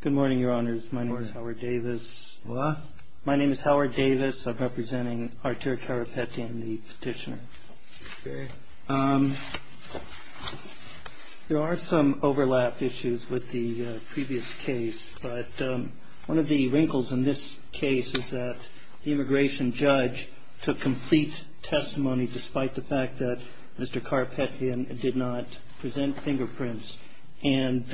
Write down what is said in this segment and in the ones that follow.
Good morning, your honors. My name is Howard Davis. My name is Howard Davis. I'm representing Arturo Karapetyan, the petitioner. There are some overlap issues with the previous case, but one of the wrinkles in this case is that the immigration judge took complete testimony, despite the fact that Mr. Karapetyan did not present fingerprints and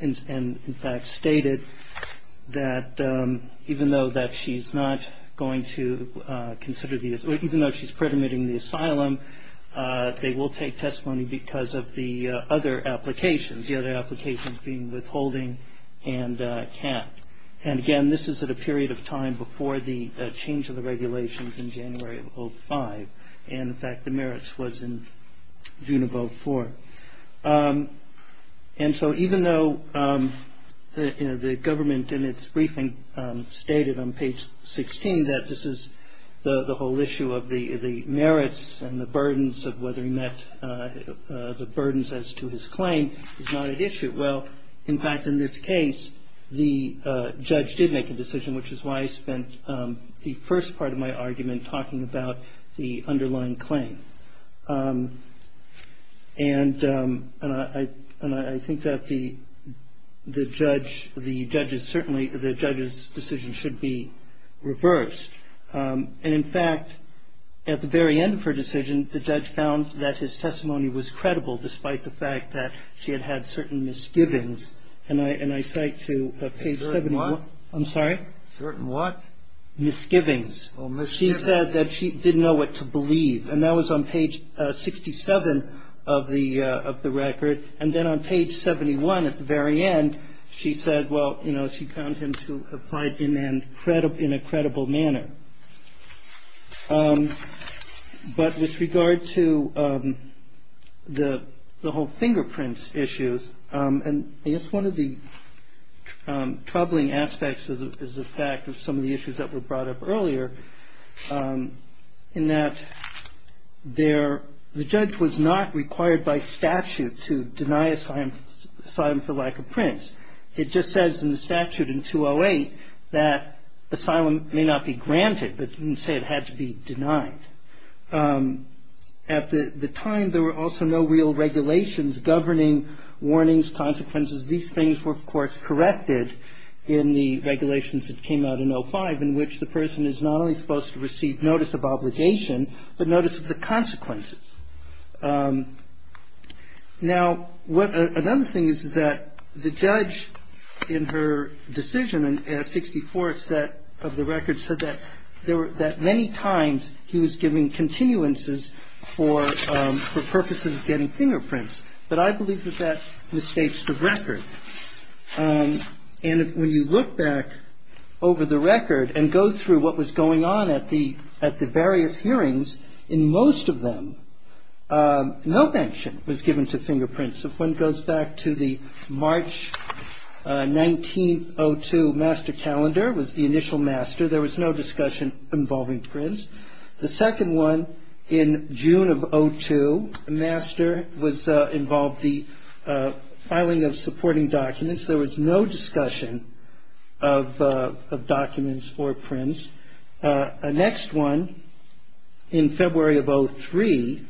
in fact stated that even though that she's not going to consider the, even though she's predominating the asylum, they will take testimony because of the other applications, the other applications being withholding and can't. And again, this is at a period of time before the change of the regulations in January of 2005. And in fact, the merits was in June of 2004. And so even though the government in its briefing stated on page 16 that this is the whole issue of the merits and the burdens of whether he met the burdens as to his claim, it's not an issue. Well, in fact, in this case, the judge did make a decision, which is why I spent the first part of my argument talking about the underlying claim. And I think that the judge, the judges, certainly the judge's decision should be reversed. And in fact, at the very end of her decision, the judge found that his testimony was credible despite the fact that she had had certain misgivings. And I cite to page 71. I'm sorry? Certain what? Misgivings. Well, misgivings. She said that she didn't know what to believe. And that was on page 67 of the record. And then on page 71 at the very end, she said, well, you know, she found him to have cried in a credible manner. But with regard to the whole fingerprints issues, and I guess one of the troubling aspects is the fact of some of the issues that were brought up earlier, in that the judge was not required by statute to deny asylum for lack of prints. It just says in the statute in 208 that asylum may not be granted, but didn't say it had to be denied. At the time, there were also no real regulations governing warnings, consequences. These things were, of course, corrected in the regulations that came out in 05, in which the person is not only supposed to receive notice of obligation, but notice of the consequences. Now, another thing is, is that the judge in her decision in 64 of the record said that many times he was giving continuances for purposes of getting fingerprints. But I believe that that misstates the record. And when you look back over the record and go through what was going on at the various hearings, in most of them, no mention was given to fingerprints. If one goes back to the March 19th, 02, master calendar, was the initial master. There was no discussion involving prints. The second one, in June of 02, master, involved the filing of supporting documents. There was no discussion of documents or prints. The next one, in February of 03,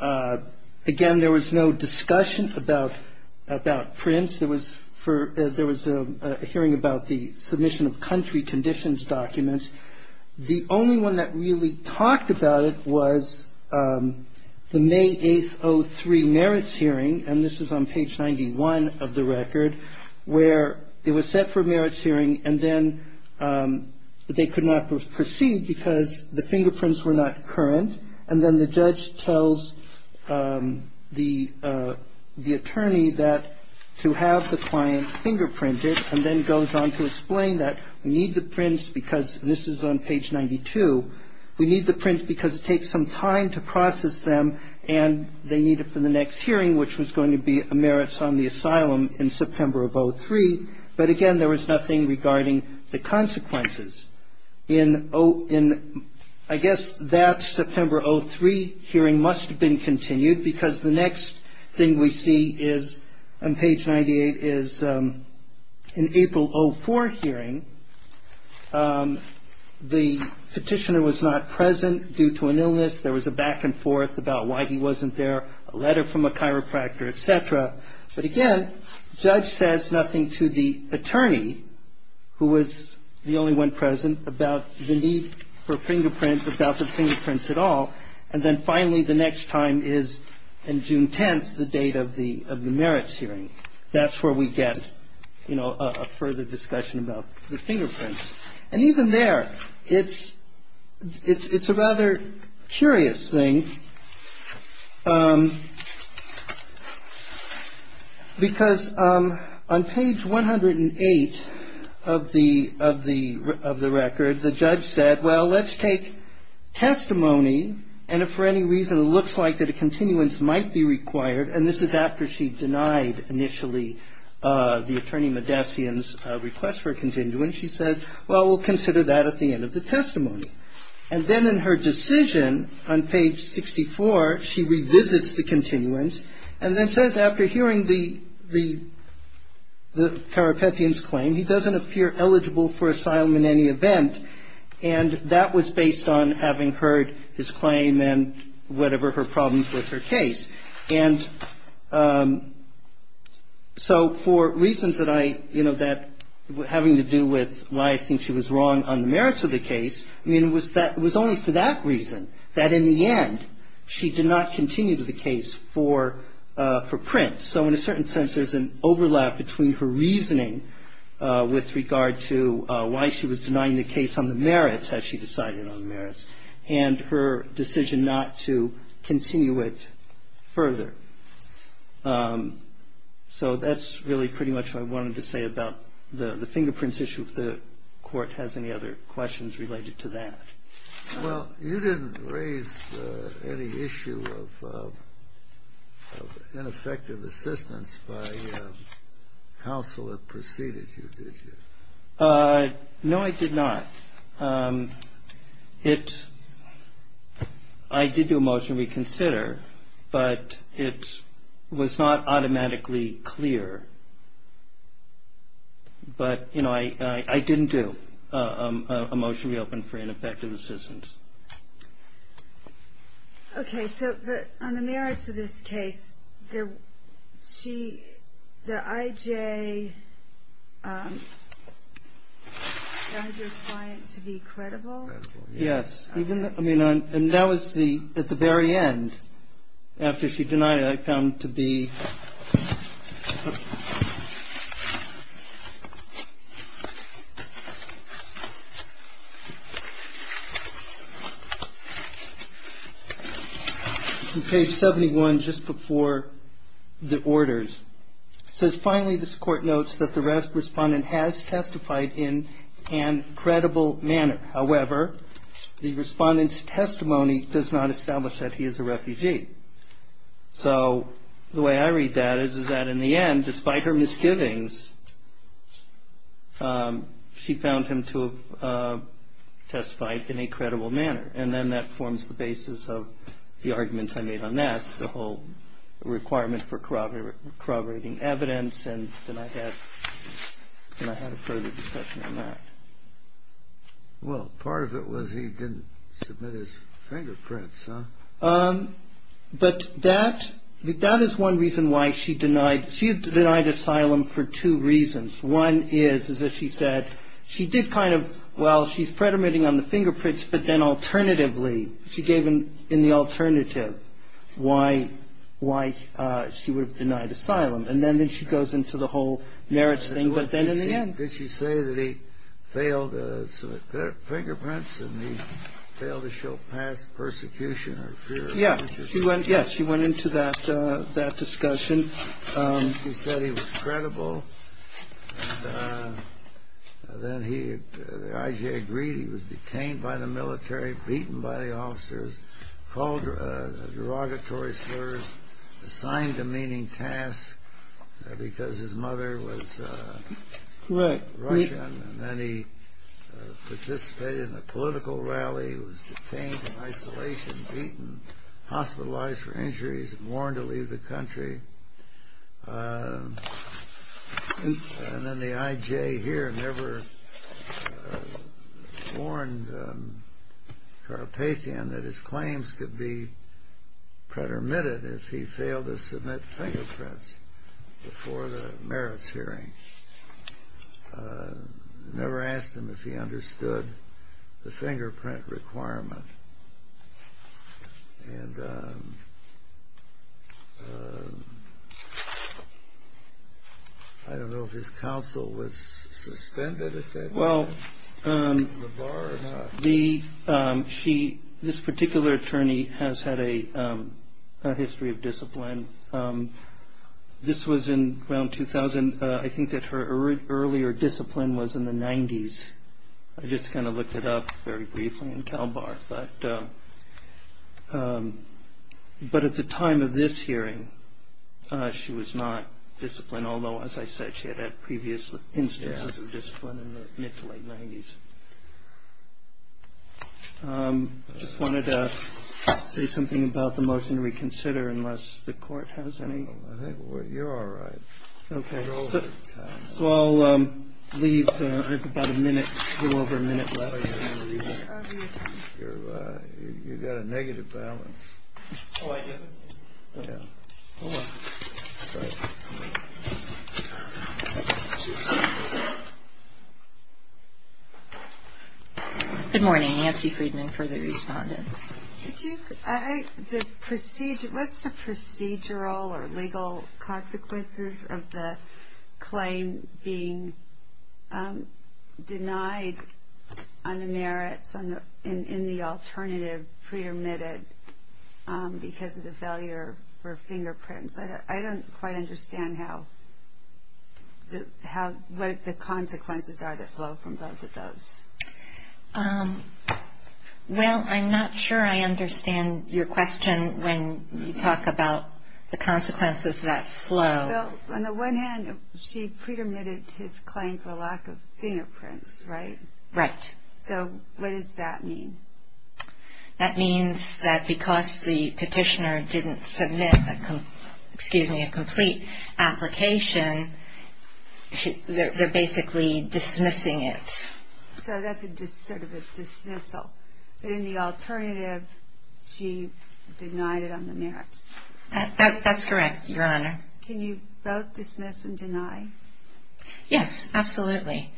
again, there was no discussion about prints. There was a hearing about the submission of country conditions documents. The only one that really talked about it was the May 8th, 03, merits hearing, and this is on page 91 of the record, where it was set for a merits hearing, and then they could not proceed because the fingerprints were not current. And then the judge tells the attorney that to have the client fingerprinted, and then goes on to explain that we need the prints because, and this is on page 92, we need the prints because it takes some time to process them, and they need it for the next hearing, which was going to be a merits on the asylum in September of 03. But, again, there was nothing regarding the consequences. In, I guess, that September 03 hearing must have been continued because the next thing we see is, on page 98, is an April 04 hearing. The petitioner was not present due to an illness. There was a back and forth about why he wasn't there, a letter from a chiropractor, et cetera. But, again, the judge says nothing to the attorney, who was the only one present, about the need for fingerprints, about the fingerprints at all, and then finally the next time is, in June 10th, the date of the merits hearing. That's where we get, you know, a further discussion about the fingerprints. And even there, it's a rather curious thing because on page 108 of the record, the judge said, well, let's take testimony, and if for any reason it looks like that a continuance might be required, and this is after she denied initially the attorney Modessian's request for a continuance, she said, well, we'll consider that at the end of the testimony. And then in her decision, on page 64, she revisits the continuance and then says, And after hearing the chiropractor's claim, he doesn't appear eligible for asylum in any event, and that was based on having heard his claim and whatever her problems with her case. And so for reasons that I, you know, that having to do with why I think she was wrong on the merits of the case, I mean, it was only for that reason that in the end she did not continue the case for prints. So in a certain sense, there's an overlap between her reasoning with regard to why she was denying the case on the merits, as she decided on the merits, and her decision not to continue it further. So that's really pretty much what I wanted to say about the fingerprints issue, if the Court has any other questions related to that. Well, you didn't raise any issue of ineffective assistance by counsel that preceded you, did you? No, I did not. I did do a motion to reconsider, but it was not automatically clear. But, you know, I didn't do a motion to reopen for ineffective assistance. Okay. So on the merits of this case, the I.J. denied your client to be credible? Yes. And that was at the very end. After she denied it, I found to be on page 71, just before the orders. It says, finally, this Court notes that the RASP respondent has testified in an incredible manner. However, the respondent's testimony does not establish that he is a refugee. So the way I read that is that in the end, despite her misgivings, she found him to have testified in a credible manner. And then that forms the basis of the arguments I made on that, the whole requirement for corroborating evidence. And then I had a further discussion on that. Well, part of it was he didn't submit his fingerprints, huh? But that is one reason why she denied. She had denied asylum for two reasons. One is, as she said, she did kind of, well, she's predominating on the fingerprints, but then alternatively, she gave in the alternative why she would have denied asylum. And then she goes into the whole merits thing, but then in the end. Did she say that he failed to submit fingerprints and he failed to show past persecution? Yes, she went into that discussion. She said he was credible. And then the IJA agreed he was detained by the military, beaten by the officers, called derogatory slurs, assigned demeaning tasks because his mother was. Right. And then he participated in a political rally. He was detained in isolation, beaten, hospitalized for injuries, warned to leave the country. And then the IJA here never warned Carpathian that his claims could be predominated if he failed to submit fingerprints before the merits hearing. Never asked him if he understood the fingerprint requirement. And I don't know if his counsel was suspended at that time. Well, this particular attorney has had a history of discipline. This was in around 2000. I think that her earlier discipline was in the 90s. I just kind of looked it up very briefly in CalBAR. But at the time of this hearing, she was not disciplined, although, as I said, she had had previous instances of discipline in the mid to late 90s. I just wanted to say something about the motion to reconsider unless the court has any. You're all right. Okay. So I'll leave. I have about a minute, a little over a minute left. You've got a negative balance. Oh, I do? Yeah. All right. Good morning. Nancy Friedman for the respondents. What's the procedural or legal consequences of the claim being denied on the merits in the alternative pre-admitted because of the failure for fingerprints? I don't quite understand what the consequences are that flow from both of those. Well, I'm not sure I understand your question when you talk about the consequences that flow. Well, on the one hand, she pre-admitted his claim for lack of fingerprints, right? Right. So what does that mean? That means that because the petitioner didn't submit a complete application, they're basically dismissing it. So that's sort of a dismissal. But in the alternative, she denied it on the merits. That's correct, Your Honor. Can you both dismiss and deny? Yes, absolutely.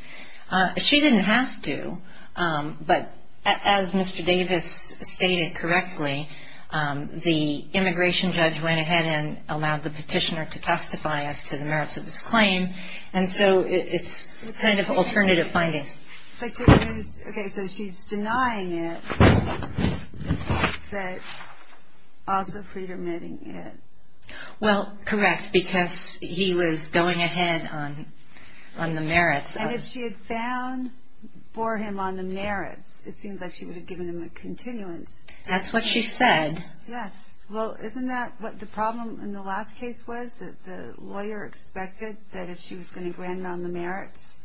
She didn't have to, but as Mr. Davis stated correctly, the immigration judge went ahead and allowed the petitioner to testify as to the merits of his claim, and so it's kind of alternative findings. Okay, so she's denying it, but also pre-admitting it. Well, correct, because he was going ahead on the merits. And if she had found for him on the merits, it seems like she would have given him a continuance. That's what she said. Yes. Well, isn't that what the problem in the last case was, that the lawyer expected that if she was going to grant him on the merits,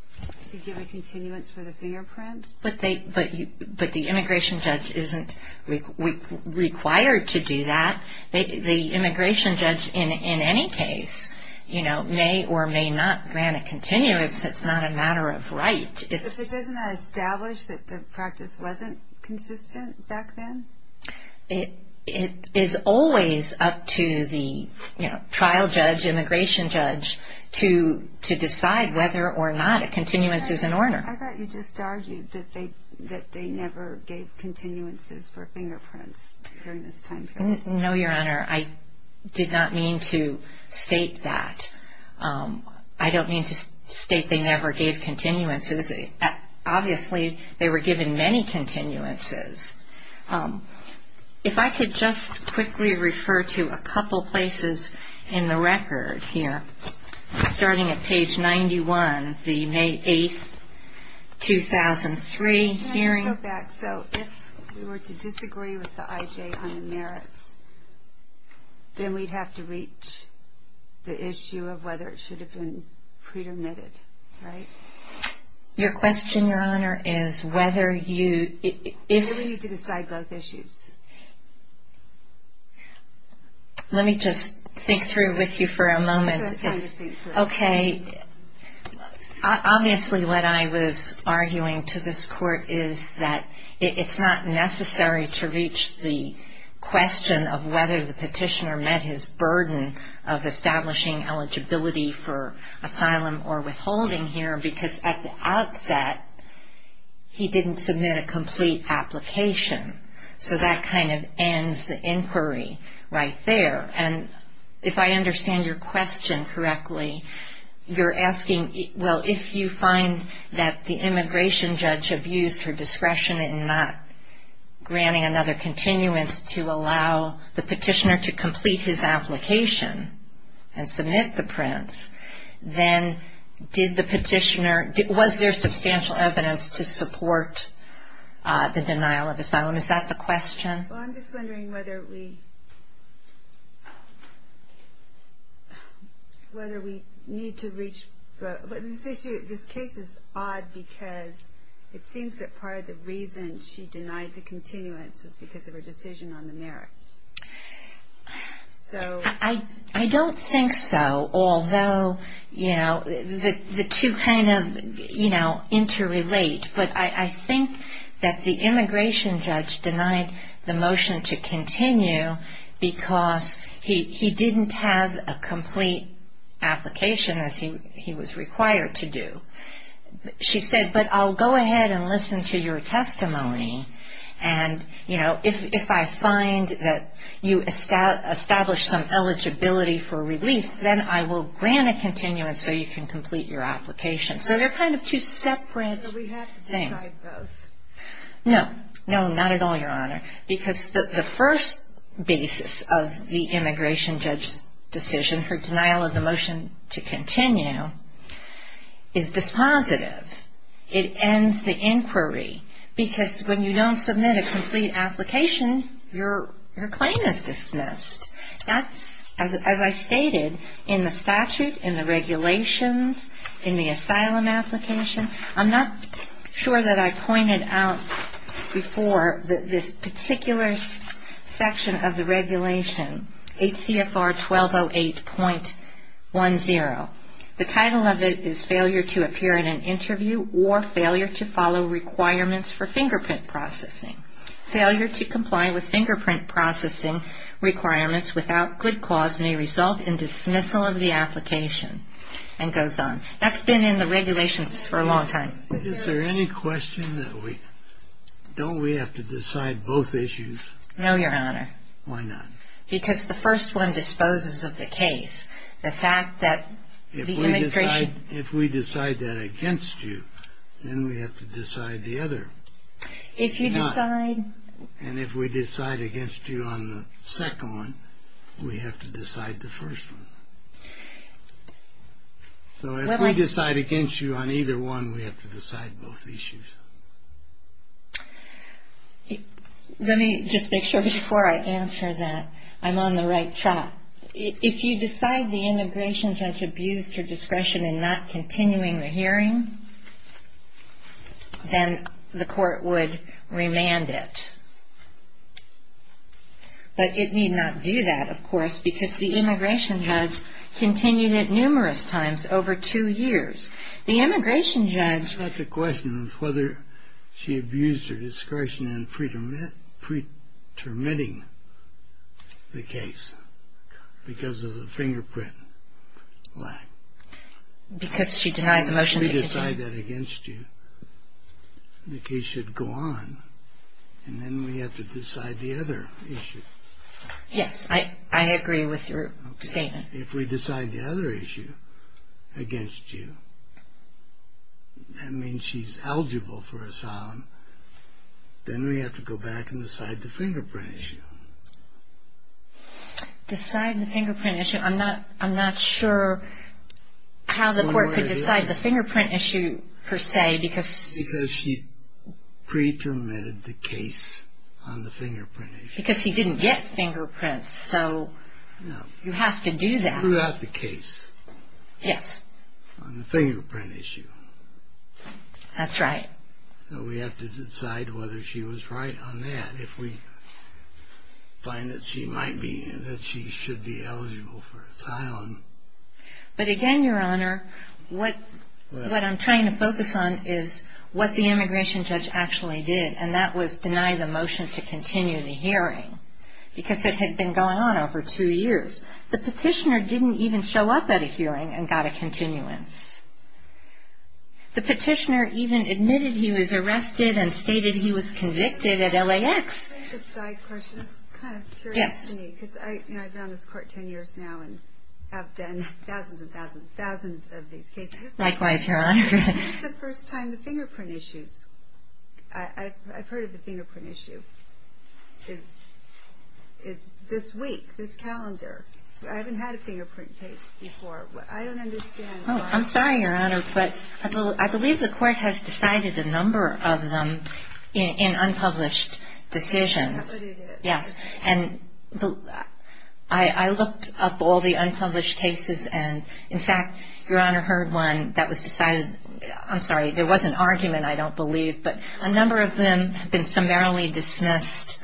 to give a continuance for the fingerprints? But the immigration judge isn't required to do that. The immigration judge, in any case, may or may not grant a continuance. It's not a matter of right. But doesn't that establish that the practice wasn't consistent back then? It is always up to the trial judge, immigration judge, to decide whether or not a continuance is in order. I thought you just argued that they never gave continuances for fingerprints during this time period. No, Your Honor, I did not mean to state that. I don't mean to state they never gave continuances. Obviously, they were given many continuances. If I could just quickly refer to a couple places in the record here, starting at page 91, the May 8, 2003 hearing. Let's go back. So if we were to disagree with the IJ on the merits, then we'd have to reach the issue of whether it should have been pre-dermitted, right? Your question, Your Honor, is whether you... You need to decide both issues. Let me just think through with you for a moment. Take some time to think through. Okay. Obviously, what I was arguing to this Court is that it's not necessary to reach the question of whether the petitioner met his burden of establishing eligibility for asylum or withholding here because at the outset, he didn't submit a complete application. So that kind of ends the inquiry right there. And if I understand your question correctly, you're asking, well, if you find that the immigration judge abused her discretion in not granting another continuance to allow the petitioner to complete his application and submit the prints, then did the petitioner... Was there substantial evidence to support the denial of asylum? Is that the question? Well, I'm just wondering whether we need to reach... This case is odd because it seems that part of the reason she denied the continuance was because of her decision on the merits. I don't think so, although the two kind of interrelate. But I think that the immigration judge denied the motion to continue because he didn't have a complete application, as he was required to do. She said, but I'll go ahead and listen to your testimony. And, you know, if I find that you establish some eligibility for relief, then I will grant a continuance so you can complete your application. So they're kind of two separate things. Do we have to decide both? No, no, not at all, Your Honor, because the first basis of the immigration judge's decision, her denial of the motion to continue, is dispositive. It ends the inquiry because when you don't submit a complete application, your claim is dismissed. That's, as I stated, in the statute, in the regulations, in the asylum application. I'm not sure that I pointed out before that this particular section of the regulation, HCFR 1208.10, the title of it is Failure to Appear in an Interview or Failure to Follow Requirements for Fingerprint Processing. Failure to comply with fingerprint processing requirements without good cause may result in dismissal of the application, and goes on. That's been in the regulations for a long time. Is there any question that we, don't we have to decide both issues? No, Your Honor. Why not? Because the first one disposes of the case. The fact that the immigration... If we decide that against you, then we have to decide the other. If you decide... And if we decide against you on the second one, we have to decide the first one. So if we decide against you on either one, we have to decide both issues. Let me just make sure before I answer that I'm on the right track. If you decide the immigration judge abused your discretion in not continuing the hearing, then the court would remand it. But it need not do that, of course, because the immigration judge continued it numerous times over two years. The immigration judge... It's not the question of whether she abused her discretion in pretermitting the case because of the fingerprint lack. Because she denied the motion to continue. If we decide that against you, the case should go on, and then we have to decide the other issue. Yes, I agree with your statement. If we decide the other issue against you, that means she's eligible for asylum, then we have to go back and decide the fingerprint issue. Decide the fingerprint issue? I'm not sure how the court could decide the fingerprint issue, per se, because... Because she pretermitted the case on the fingerprint issue. Because he didn't get fingerprints, so you have to do that. No, throughout the case. Yes. On the fingerprint issue. That's right. So we have to decide whether she was right on that if we find that she should be eligible for asylum. But again, Your Honor, what I'm trying to focus on is what the immigration judge actually did, and that was deny the motion to continue the hearing because it had been going on over two years. The petitioner didn't even show up at a hearing and got a continuance. The petitioner even admitted he was arrested and stated he was convicted at LAX. Can I ask a side question? I'm kind of curious. Yes. Because I've been on this court ten years now and have done thousands and thousands and thousands of these cases. Likewise, Your Honor. When was the first time the fingerprint issues? I've heard of the fingerprint issue. It's this week, this calendar. I haven't had a fingerprint case before. I don't understand. I'm sorry, Your Honor, but I believe the court has decided a number of them in unpublished decisions. That's what it is. Yes. And I looked up all the unpublished cases, and in fact, Your Honor, heard one that was decided. I'm sorry. There was an argument, I don't believe, but a number of them have been summarily dismissed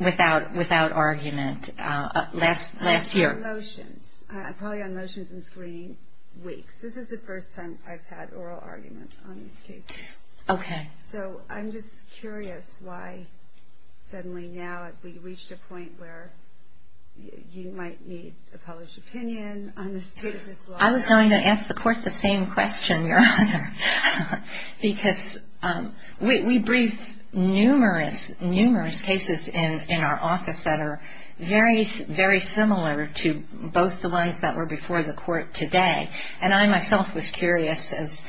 without argument last year. On motions. Probably on motions and screening weeks. This is the first time I've had oral arguments on these cases. Okay. So I'm just curious why suddenly now we've reached a point where you might need a published opinion on the state of this law. I was going to ask the court the same question, Your Honor, because we briefed numerous, numerous cases in our office that are very, very similar to both the ones that were before the court today, and I myself was curious as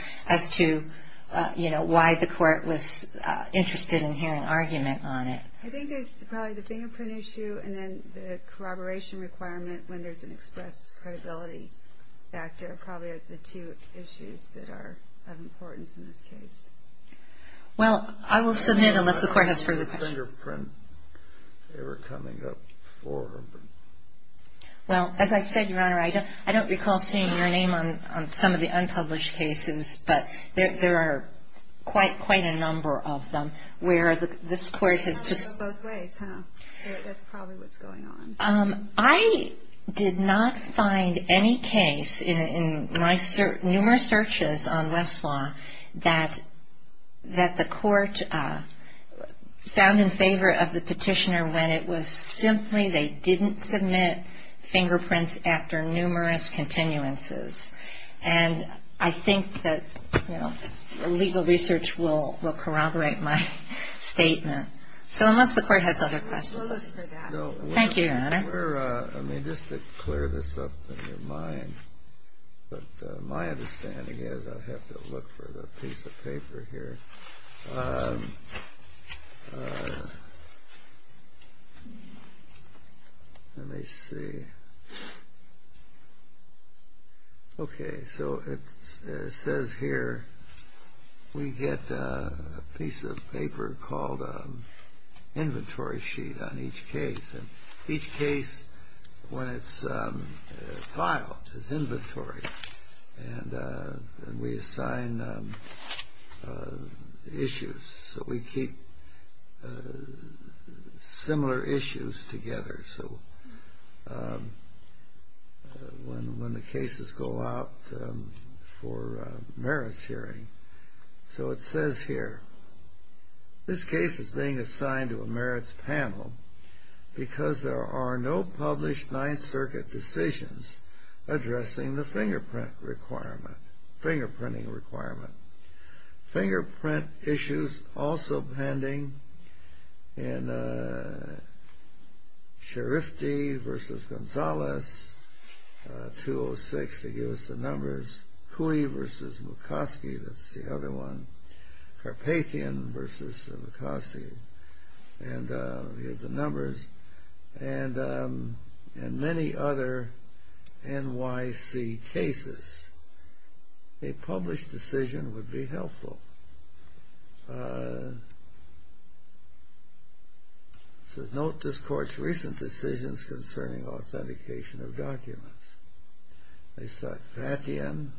to, you know, why the court was interested in hearing argument on it. I think it's probably the fingerprint issue and then the corroboration requirement when there's an express credibility factor are probably the two issues that are of importance in this case. Well, I will submit unless the court has further questions. Fingerprint, they were coming up before. Well, as I said, Your Honor, I don't recall seeing your name on some of the unpublished cases, but there are quite a number of them where this court has just. Both ways, huh? That's probably what's going on. I did not find any case in my numerous searches on Westlaw that the court found in favor of the petitioner when it was simply they didn't submit fingerprints after numerous continuances. And I think that, you know, legal research will corroborate my statement. So unless the court has other questions. Thank you, Your Honor. Let me just clear this up in your mind. But my understanding is I have to look for the piece of paper here. Let me see. Okay. So it says here we get a piece of paper called inventory sheet on each case. And each case, when it's filed, is inventory. And we assign issues. So we keep similar issues together. So when the cases go out for merits hearing. So it says here, this case is being assigned to a merits panel because there are no published Ninth Circuit decisions addressing the fingerprint requirement, fingerprinting requirement. Fingerprint issues also pending in Scharifti v. Gonzalez 206. They give us the numbers. Cui v. McCoskey, that's the other one. Carpathian v. McCoskey. And here's the numbers. And many other NYC cases. A published decision would be helpful. It says, note this court's recent decisions concerning authentication of documents. They sought Carpathian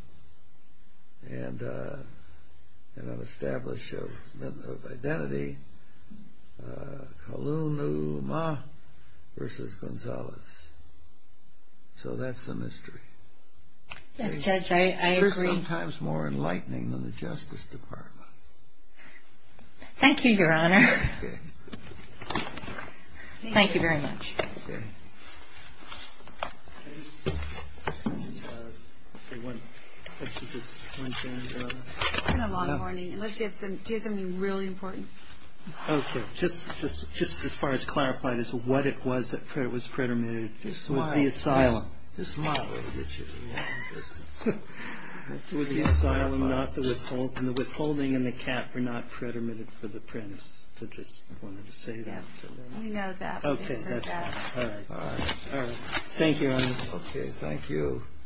and an establishment of identity. Kalunuma v. Gonzalez. So that's the mystery. Yes, Judge, I agree. They're sometimes more enlightening than the Justice Department. Thank you, Your Honor. Okay. Thank you very much. Okay. Okay, one question, just one second, Your Honor. It's been a long morning, unless you have something really important. Okay, just as far as clarifying this, what it was that was predetermined was the asylum. The asylum, not the withholding. And the withholding and the cap were not predetermined for the Prince. I just wanted to say that. We know that. Okay. All right. All right. Thank you, Your Honor. Okay, thank you.